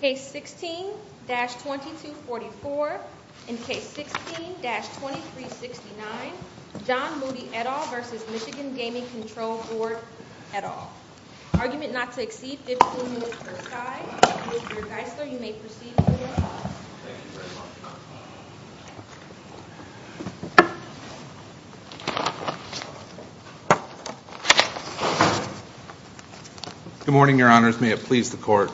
Case 16-2244 and Case 16-2369, John Moody et al. v. Michigan Gaming Control Board et al. Argument not to exceed 15 minutes per side. Mr. Geisler, you may proceed. Good morning, Your Honors. May it please the Court,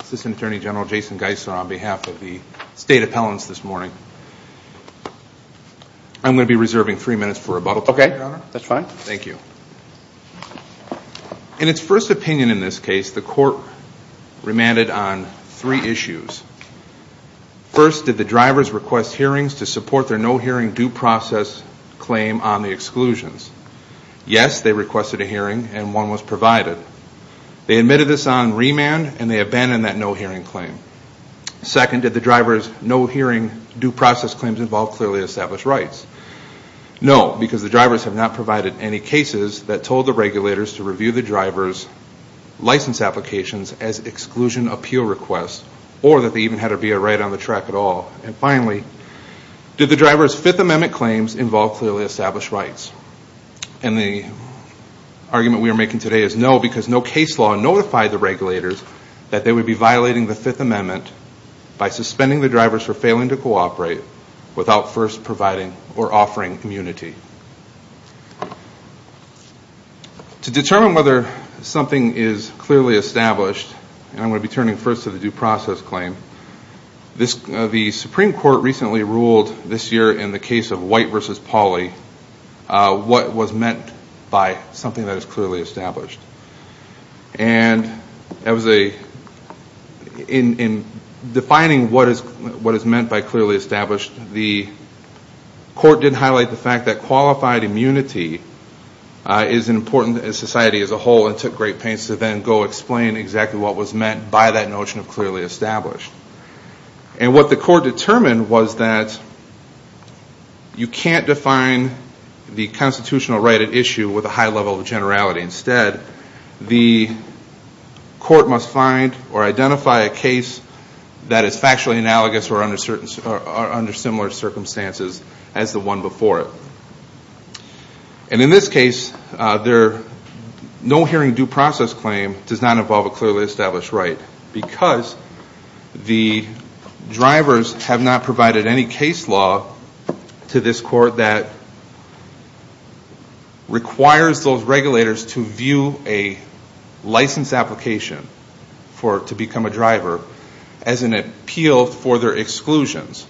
Assistant Attorney General Jason Geisler on behalf of the State Appellants this morning. I'm going to be reserving three minutes for rebuttal time, Your Honor. Okay, that's fine. Thank you. In its first opinion in this case, the Court remanded on three issues. First, did the drivers request hearings to support their no-hearing due process claim on the exclusions? Yes, they requested a hearing and one was provided. They admitted this on remand and they abandoned that no-hearing claim. Second, did the drivers' no-hearing due process claims involve clearly established rights? No, because the drivers have not provided any cases that told the regulators to review the drivers' license applications as exclusion appeal requests or that they even had to be a right on the track at all. And finally, did the drivers' Fifth Amendment claims involve clearly established rights? And the argument we are making today is no, because no case law notified the regulators that they would be violating the Fifth Amendment by suspending the drivers for failing to cooperate without first providing or offering clear evidence to the community. To determine whether something is clearly established, and I'm going to be turning first to the due process claim, the Supreme Court recently ruled this year in the case of White v. Pauly what was meant by something that is clearly established. And that was a, in defining what was meant by that notion of clearly established. And what the court determined was that you can't define the constitutional right at issue with a high level of generality. Instead, the court must find or identify a case that is factually analogous or under similar circumstances as the one before it. And in this case, no hearing due process claim does not involve a clearly established right, because the drivers have not provided any case law to this court that requires those regulators to view a license application to become a driver, and that would be a violation of the Fifth Amendment as an appeal for their exclusions.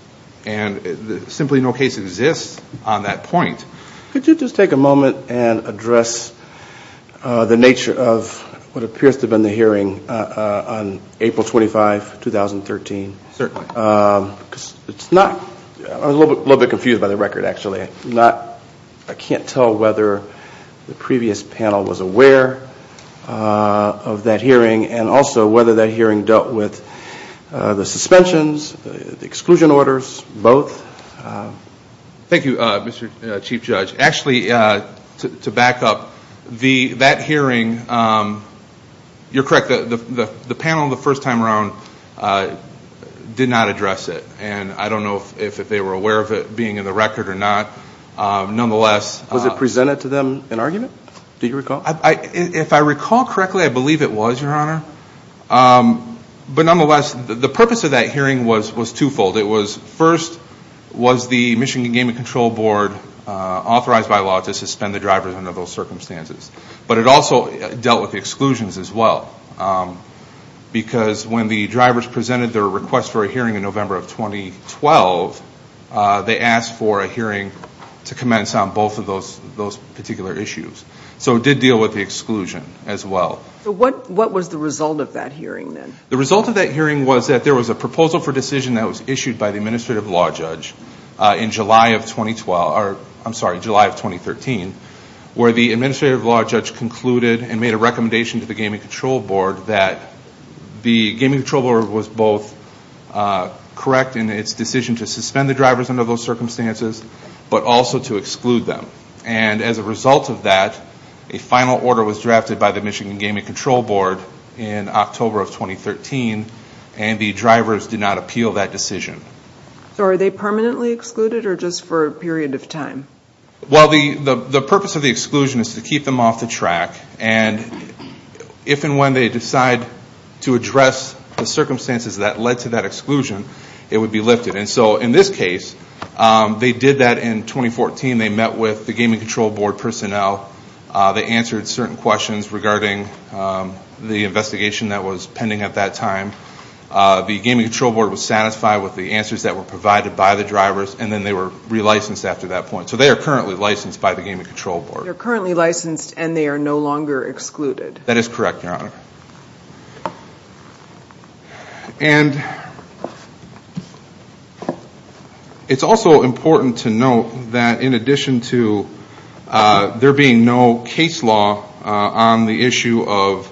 And simply no case exists on that point. Could you just take a moment and address the nature of what appears to have been the hearing on April 25, 2013? Certainly. I was a little bit confused by the record, actually. I can't tell whether the previous panel was aware of that hearing, and also whether that hearing dealt with the suspensions, the exclusion orders, both. Thank you, Mr. Chief Judge. Actually, to back up, that hearing, you're correct, the panel the first time around did not address it. And I don't know if they were aware of it being in the record or not. Nonetheless... Was it presented to them in argument? Do you recall? If I recall correctly, I believe it was, Your Honor. But nonetheless, the purpose of that hearing was twofold. First, was the Michigan Game and Control Board authorized by law to suspend the drivers under those circumstances? But it also dealt with the fact that in November of 2012, they asked for a hearing to commence on both of those particular issues. So it did deal with the exclusion as well. What was the result of that hearing, then? The result of that hearing was that there was a proposal for decision that was issued by the Administrative Law Judge in July of 2012, or I'm sorry, July of 2012. The Administrative Law Judge concluded and made a recommendation to the Game and Control Board that the Game and Control Board was both correct in its decision to suspend the drivers under those circumstances, but also to exclude them. And as a result of that, a final order was drafted by the Michigan Game and Control Board in October of 2013, and the drivers did not appeal that decision. So are they permanently excluded or just for a period of time? Well, the purpose of the exclusion is to keep them off the track, and if and when they decide to address the circumstances that led to that exclusion, it would be lifted. And so in this case, they did that in 2014. They met with the Game and Control Board personnel. They answered certain questions regarding the investigation that was pending at that time. The Game and Control Board was satisfied with the answers that were given. So they are currently licensed by the Game and Control Board. They're currently licensed and they are no longer excluded? That is correct, Your Honor. And it's also important to note that in addition to there being no case law on the issue of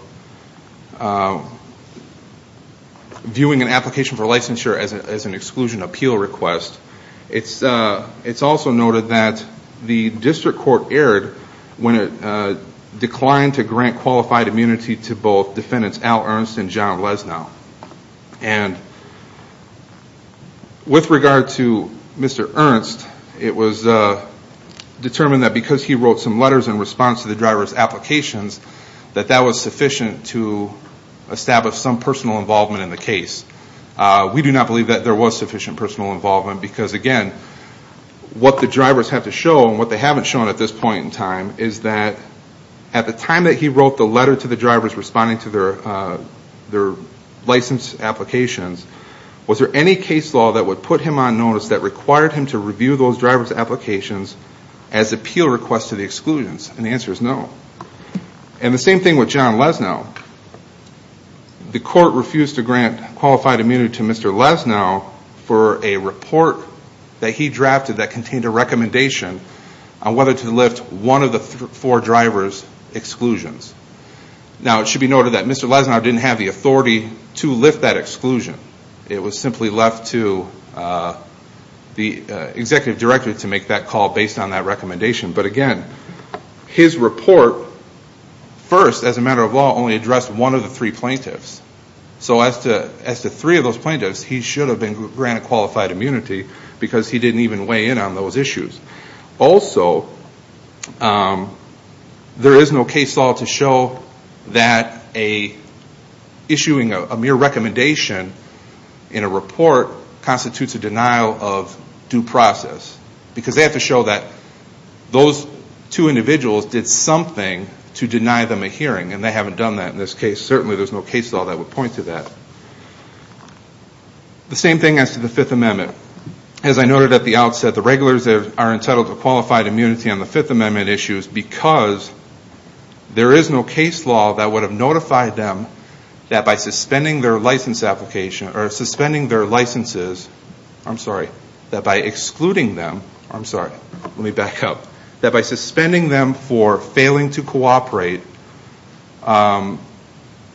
viewing an application for a driver's license, the district court erred when it declined to grant qualified immunity to both defendants Al Ernst and John Lesnau. And with regard to Mr. Ernst, it was determined that because he wrote some letters in response to the driver's applications, that that was sufficient to establish some personal involvement in the case. We do not believe that there was sufficient personal involvement because, again, what the court has shown, what they haven't shown at this point in time, is that at the time that he wrote the letter to the drivers responding to their license applications, was there any case law that would put him on notice that required him to review those driver's applications as appeal requests to the exclusions? And the answer is no. And the same thing with John Lesnau. The court refused to grant qualified immunity to Mr. Lesnau for a report that he submitted on whether to lift one of the four drivers' exclusions. Now, it should be noted that Mr. Lesnau didn't have the authority to lift that exclusion. It was simply left to the executive director to make that call based on that recommendation. But, again, his report first, as a matter of law, only addressed one of the three plaintiffs. So as to three of those plaintiffs, he should have been granted qualified immunity because he didn't even weigh in on those issues. Also, there is no case law to show that issuing a mere recommendation in a report constitutes a denial of due process. Because they have to show that those two individuals did something to deny them a hearing. And they haven't done that in this case. Certainly, there's no case law that would point to that. The same thing as to the Fifth Amendment. As I noted at the outset, the regulars are entitled to qualified immunity on the Fifth Amendment issues because there is no case law that would have notified them that by suspending their licenses, that by excluding them for failing to grant their license,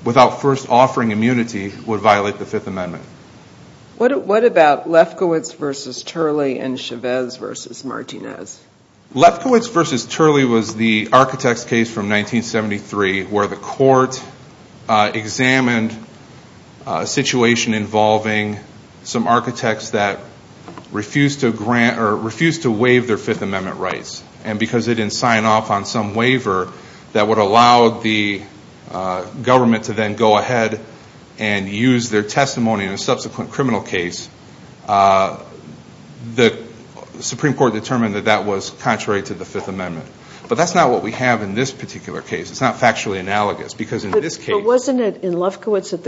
that their first offering immunity would violate the Fifth Amendment. What about Lefkowitz v. Turley and Chavez v. Martinez? Lefkowitz v. Turley was the architect's case from 1973 where the court examined a situation involving some architects that refused to waive their Fifth Amendment rights. And because they didn't sign off on some waiver that would allow the government to then go ahead and use their testimony in a subsequent criminal case, the Supreme Court determined that that was contrary to the Fifth Amendment. But that's not what we have in this particular case. It's not factually analogous because in this case... I'm sorry, I'm confused.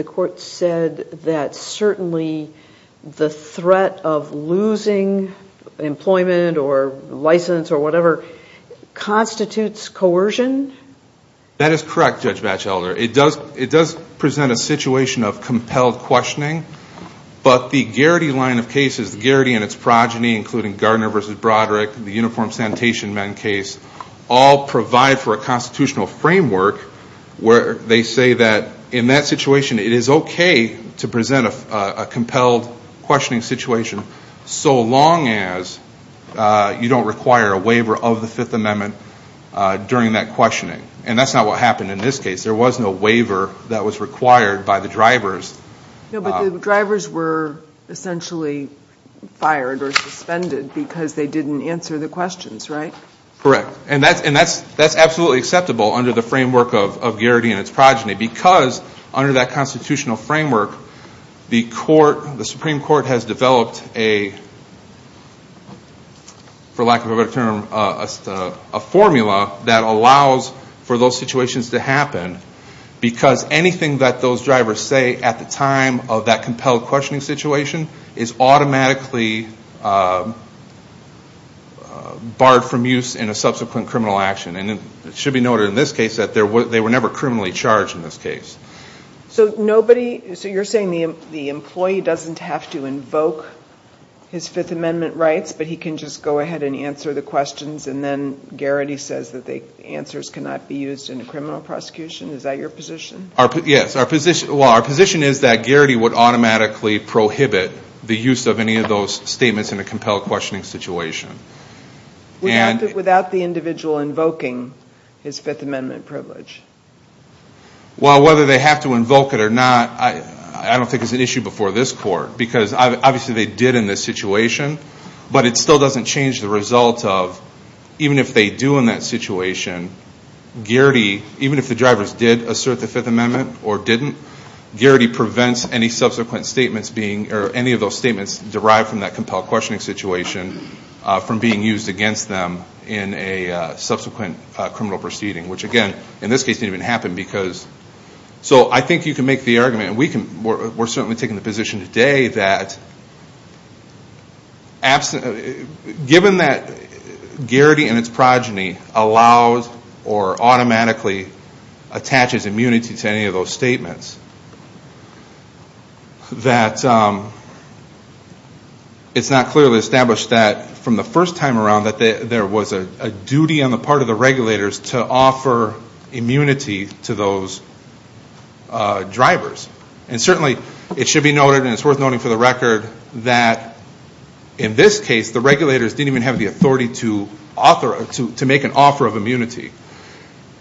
That is correct, Judge Batchelder. It does present a situation of compelled questioning. But the Garrity line of cases, Garrity and its progeny, including Gardner v. Broderick, the Uniform Sanitation Men case, all provide for a constitutional framework where they say that in that situation, it is okay to present a compelled questioning situation so long as you don't require a waiver of the Fifth Amendment during that questioning. And that's not what happened in this case. There was no waiver that was required by the drivers. No, but the drivers were essentially fired or suspended because they didn't answer the questions, right? Correct. And that's absolutely acceptable under the framework of Garrity and its progeny because under that constitutional framework, the Supreme Court has developed a, for lack of a better term, a formula that allows for those situations to happen because anything that those drivers say at the time of that compelled questioning situation is automatically barred from use in a subsequent criminal action. And it should be noted in this case that they were never criminally charged in this case. So nobody, so you're saying the employee doesn't have to invoke his Fifth Amendment rights, but he can just go ahead and answer the questions and then Garrity says that the answers cannot be used in a criminal prosecution? Is that your position? Yes. Well, our position is that Garrity would automatically prohibit the use of any of those statements in a compelled questioning situation. Without the individual invoking his Fifth Amendment privilege? Well, whether they have to invoke it or not, I don't think it's an issue before this Court because obviously they did in this situation, but it still doesn't change the result of even if they do in that situation, Garrity, even if the drivers did assert the Fifth Amendment or didn't, Garrity prevents any subsequent statements being, or any of those statements derived from that compelled questioning situation from being used in a criminal prosecution. So I think you can make the argument, and we're certainly taking the position today, that given that Garrity and his progeny allows or automatically attaches immunity to any of those statements, that it's not clearly established that from the first time Garrity was charged, Garrity was not charged. It's clear from the first time around that there was a duty on the part of the regulators to offer immunity to those drivers. And certainly it should be noted, and it's worth noting for the record, that in this case, the regulators didn't even have the authority to make an offer of immunity.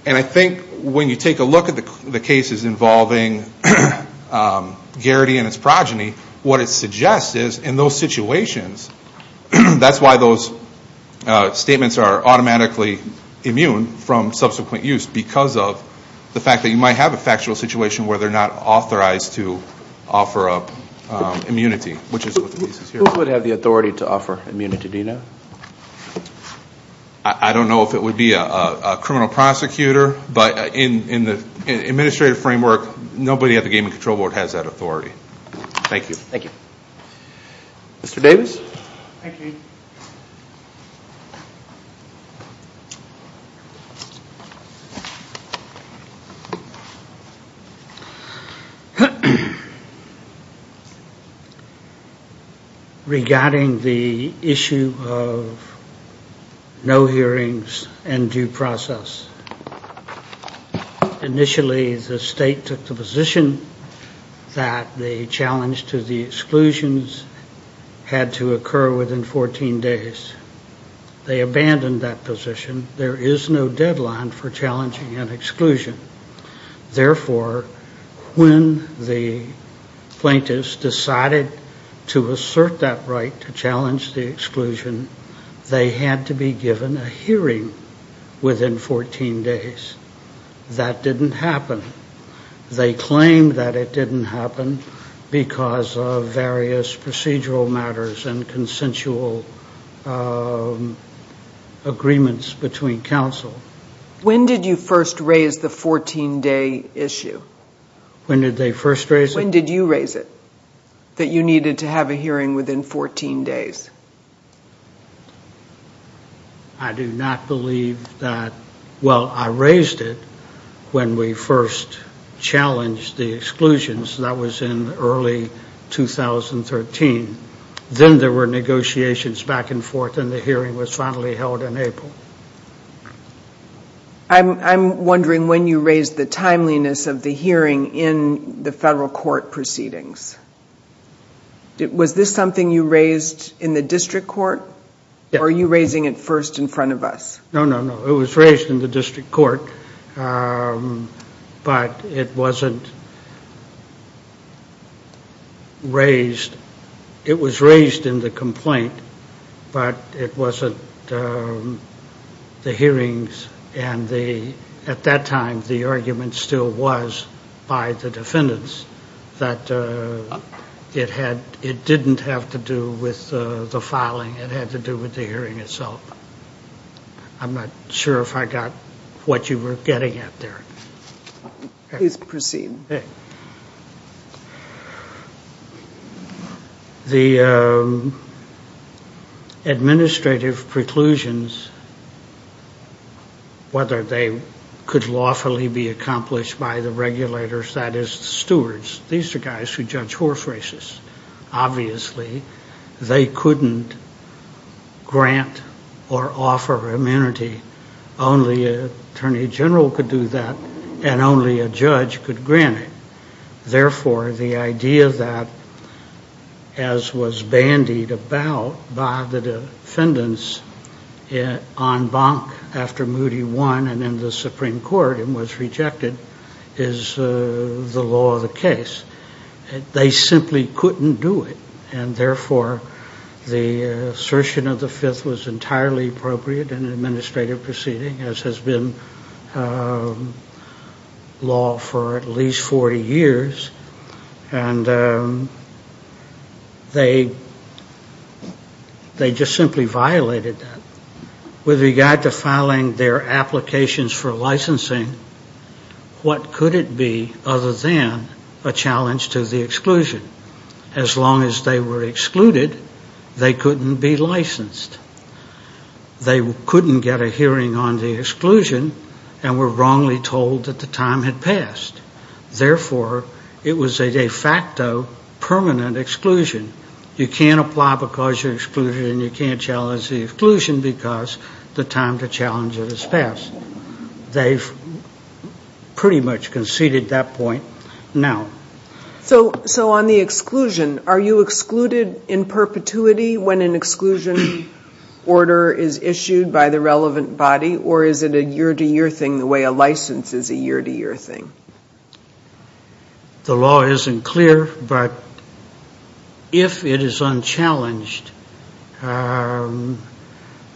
And I think when you take a look at the cases involving Garrity and his progeny, what it suggests is in those situations, that's why those drivers were charged. Statements are automatically immune from subsequent use because of the fact that you might have a factual situation where they're not authorized to offer up immunity, which is what the case is here. Who would have the authority to offer immunity, do you know? I don't know if it would be a criminal prosecutor, but in the administrative framework, nobody at the Game and Control Board has that authority. Thank you. Mr. Davis. Regarding the issue of no hearings and due process, initially the state took the position that the challenge to the original hearing was that the exclusions had to occur within 14 days. They abandoned that position. There is no deadline for challenging an exclusion. Therefore, when the plaintiffs decided to assert that right to challenge the exclusion, they had to be given a hearing within 14 days. That didn't happen. There were various procedural matters and consensual agreements between counsel. When did you first raise the 14-day issue? When did you raise it, that you needed to have a hearing within 14 days? I do not believe that. Well, I raised it when we first challenged the exclusions. That was in early 2013. I'm wondering when you raised the timeliness of the hearing in the federal court proceedings. Was this something you raised in the district court, or are you raising it first in front of us? No, it was raised in the district court, but it wasn't raised. It was raised in the complaint, but it wasn't the hearings. At that time, the argument still was by the defendants that it didn't have to do with the filing. It had to do with the hearing itself. The administrative preclusions, whether they could lawfully be accomplished by the regulators, that is, the stewards. These are guys who judge horse races. They can't grant or offer immunity. Only an attorney general could do that, and only a judge could grant it. Therefore, the idea that, as was bandied about by the defendants on Bonk after Moody won and in the Supreme Court and was rejected, is the law of the case. They simply couldn't do it, and therefore the assertion of the Fifth was entirely appropriate in an administrative proceeding, as has been law for at least 40 years. They just simply violated that. With regard to filing their applications for licensing, what could it be other than a challenge to the exclusion? As long as they were excluded, they couldn't be licensed. They couldn't get a hearing on the exclusion and were wrongly told that the time had passed. Therefore, it was a de facto permanent exclusion. You can't apply because you're excluded, and you can't challenge the exclusion because the time to challenge it has passed. They've pretty much conceded that point now. So on the exclusion, are you excluded in perpetuity when an exclusion order is issued by the relevant body, or is it a year-to-year thing the way a license is a year-to-year thing? The law isn't clear, but if it is unchallenged, the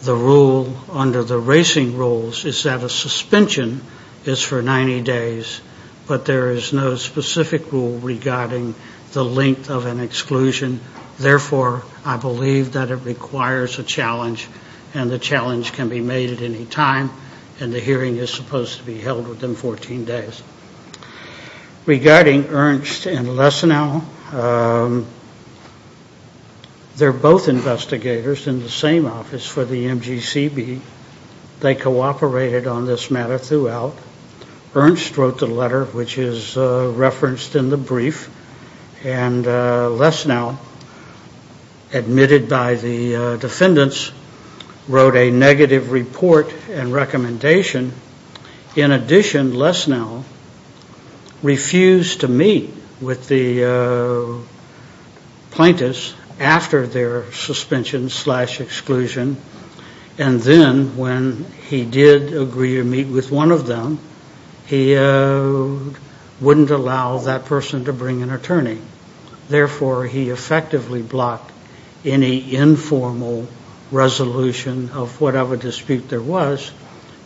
rule under the racing rules is that a suspension is for 90 days, but there is no specific rule regarding the length of an exclusion. Therefore, I believe that it requires a challenge, and the challenge can be made at any time, and the hearing is supposed to be held within 14 days. Regarding Ernst and Lesnau, they're both investigators in the same office for the MGCB. They cooperated on this matter throughout. Ernst wrote the letter, which is referenced in the brief, and Lesnau, admitted by the defendants, wrote a negative report and recommendation. In addition, Lesnau refused to meet with the plaintiffs after their suspension-slash-exclusion, and then when he did agree to meet with one of them, he wouldn't allow that person to bring an attorney. Therefore, he effectively blocked any informal resolution of whatever dispute there was.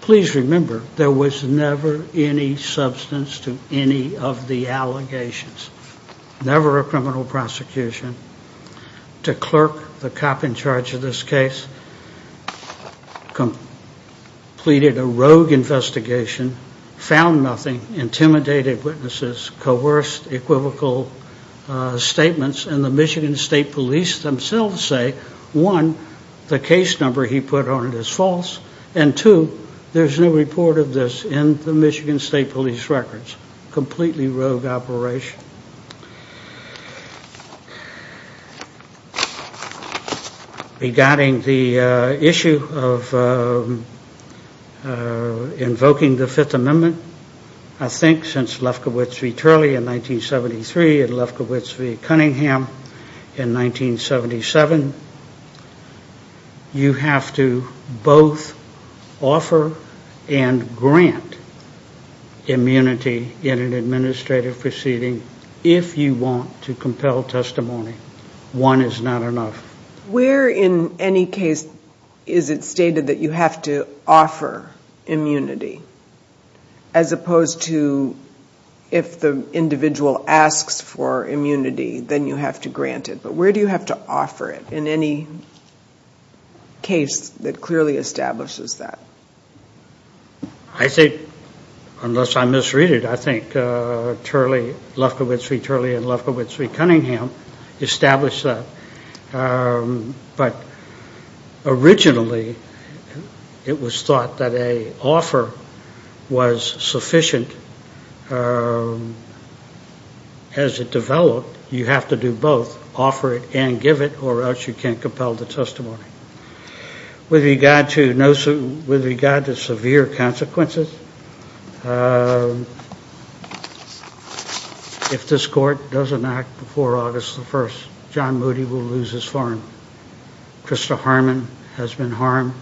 Please remember, there was never any substance to any of the allegations, never a criminal prosecution. The clerk, the cop in charge of this case, pleaded a rogue investigation, found nothing, intimidated witnesses, coerced equivocal statements, and the Michigan State Police themselves say, one, the case number he put on it is false, and two, there's no report of this in the Michigan State Police records. Completely rogue operation. Regarding the issue of invoking the Fifth Amendment, I think, since Lefkowitz v. Turley in 1973 and Lefkowitz v. Cunningham in 1977, you have to both offer and grant immunity in an administrative proceeding if you want to compel testimony. One is not enough. Where in any case is it stated that you have to offer immunity, as opposed to if the individual asks for immunity, then you have to grant it? But where do you have to offer it in any case that clearly establishes that? I think, unless I misread it, I think Turley, Lefkowitz v. Turley and Lefkowitz v. Cunningham established that. But originally, it was thought that an offer was sufficient. As it developed, you have to do both, offer it and give it, or else you can't compel the testimony. With regard to severe consequences, if this Court doesn't act before August 1, John Moody will lose his farm. Krista Harmon has been harmed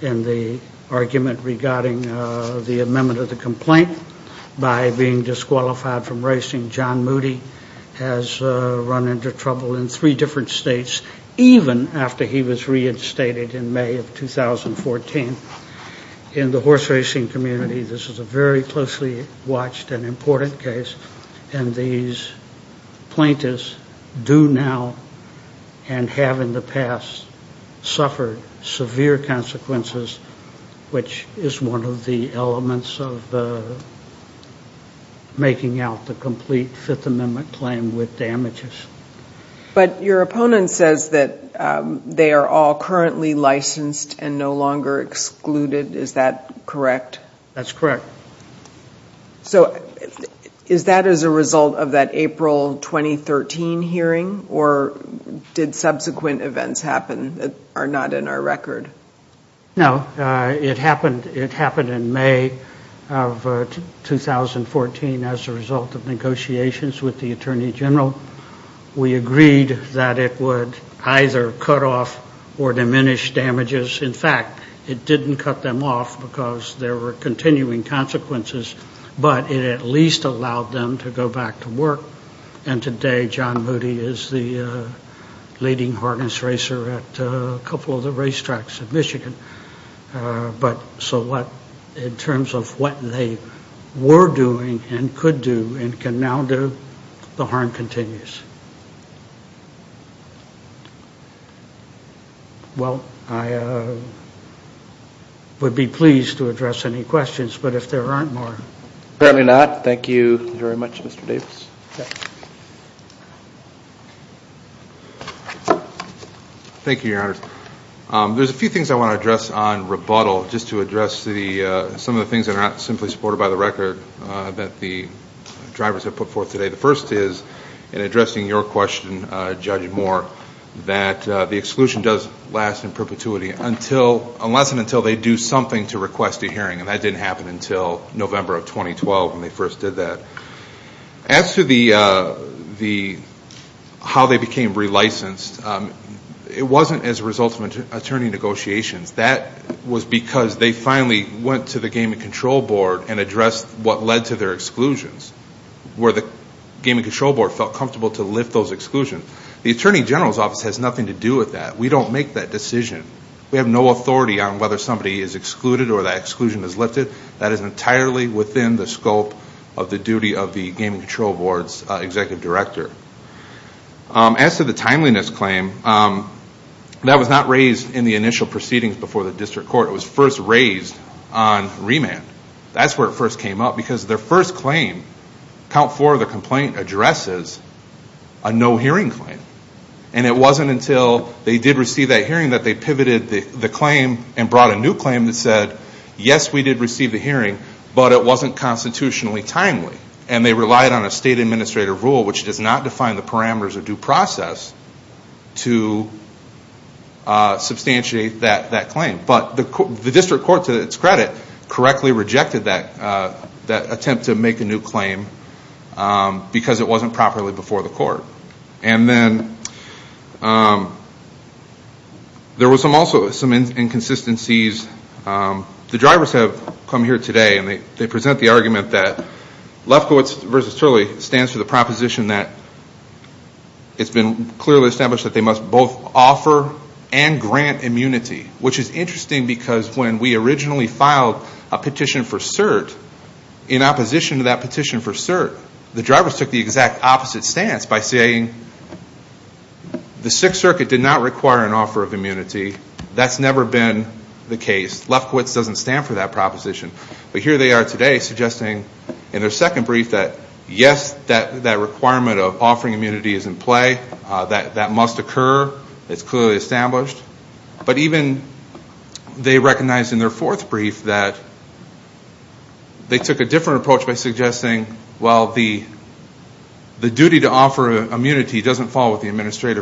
in the argument regarding the amendment of the complaint. By being disqualified from racing, John Moody has run into trouble in three different states, even after he was reinstated in May of 2014. In the horse racing community, this is a very closely watched and important case, and these plaintiffs do now and have in the past suffered severe consequences, which is one of the elements of making out the complete Fifth Amendment claim with damages. But your opponent says that they are all currently licensed and no longer excluded, is that correct? That's correct. So is that as a result of that April 2013 hearing, or did subsequent events happen that are not in our record? No, it happened in May of 2014 as a result of negotiations with the Attorney General. We agreed that it would either cut off or diminish damages. In fact, it didn't cut them off because there were continuing consequences, but it at least allowed them to go back to work, and today John Moody is the leading harness racer at a couple of the racetracks in Michigan. But so what, in terms of what they were doing and could do and can now do, the harm continues. Well, I would be pleased to address any questions, but if there aren't more... Thank you, Your Honor. There's a few things I want to address on rebuttal, just to address some of the things that are not simply supported by the record that the drivers have put forth today. The first is, in addressing your question, Judge Moore, that the exclusion does last in perpetuity unless and until they do something to request a hearing, and that didn't happen until November of 2012 when they first did that. As to how they became re-licensed, it wasn't as a result of attorney negotiations. That was because they finally went to the Game and Control Board and addressed what led to their exclusions, where the Game and Control Board felt comfortable to lift those exclusions. The Attorney General's Office has nothing to do with that. We don't make that decision. We have no authority on whether somebody is excluded or that exclusion is lifted. That is entirely within the scope of the duty of the Game and Control Board's Executive Director. As to the timeliness claim, that was not raised in the initial proceedings before the District Court. It was first raised on remand. That's where it first came up, because their first claim, Count 4 of the complaint, addresses a no-hearing claim. And it wasn't until they did receive that hearing that they pivoted the claim and brought a new claim that said, yes, we did receive the hearing, but it wasn't constitutionally timely. And they relied on a state administrator rule, which does not define the parameters of due process, to substantiate that claim. But the District Court, to its credit, correctly rejected that attempt to make a new claim because it wasn't properly before the court. There were also some inconsistencies. The drivers have come here today, and they present the argument that Lefkowitz v. Turley stands for the proposition that it's been clearly established that they must both offer and grant immunity, which is interesting because when we originally filed a petition for cert, in opposition to that petition for cert, the drivers took the exact opposite stance by saying the Sixth Circuit did not require an offer of immunity. That's never been the case. Lefkowitz doesn't stand for that proposition. But here they are today suggesting in their second brief that, yes, that requirement of offering immunity is in play. That must occur. It's clearly established. But even they recognize in their fourth brief that they took a different approach by suggesting, well, the duty to offer immunity doesn't fall with anybody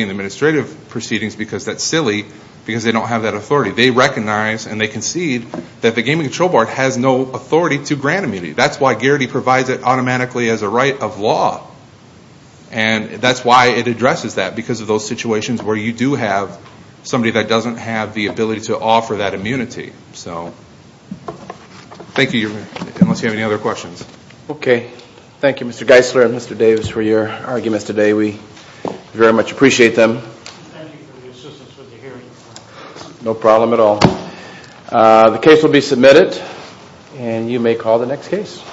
in the administrative proceedings because that's silly, because they don't have that authority. They recognize and they concede that the Gaming Control Board has no authority to grant immunity. That's why Gearty provides it automatically as a right of law. And that's why it addresses that, because of those situations where you do have somebody that doesn't have the ability to offer that immunity. Thank you, Mr. Geisler and Mr. Davis for your arguments today. We very much appreciate them. Thank you for the assistance with the hearing. No problem at all.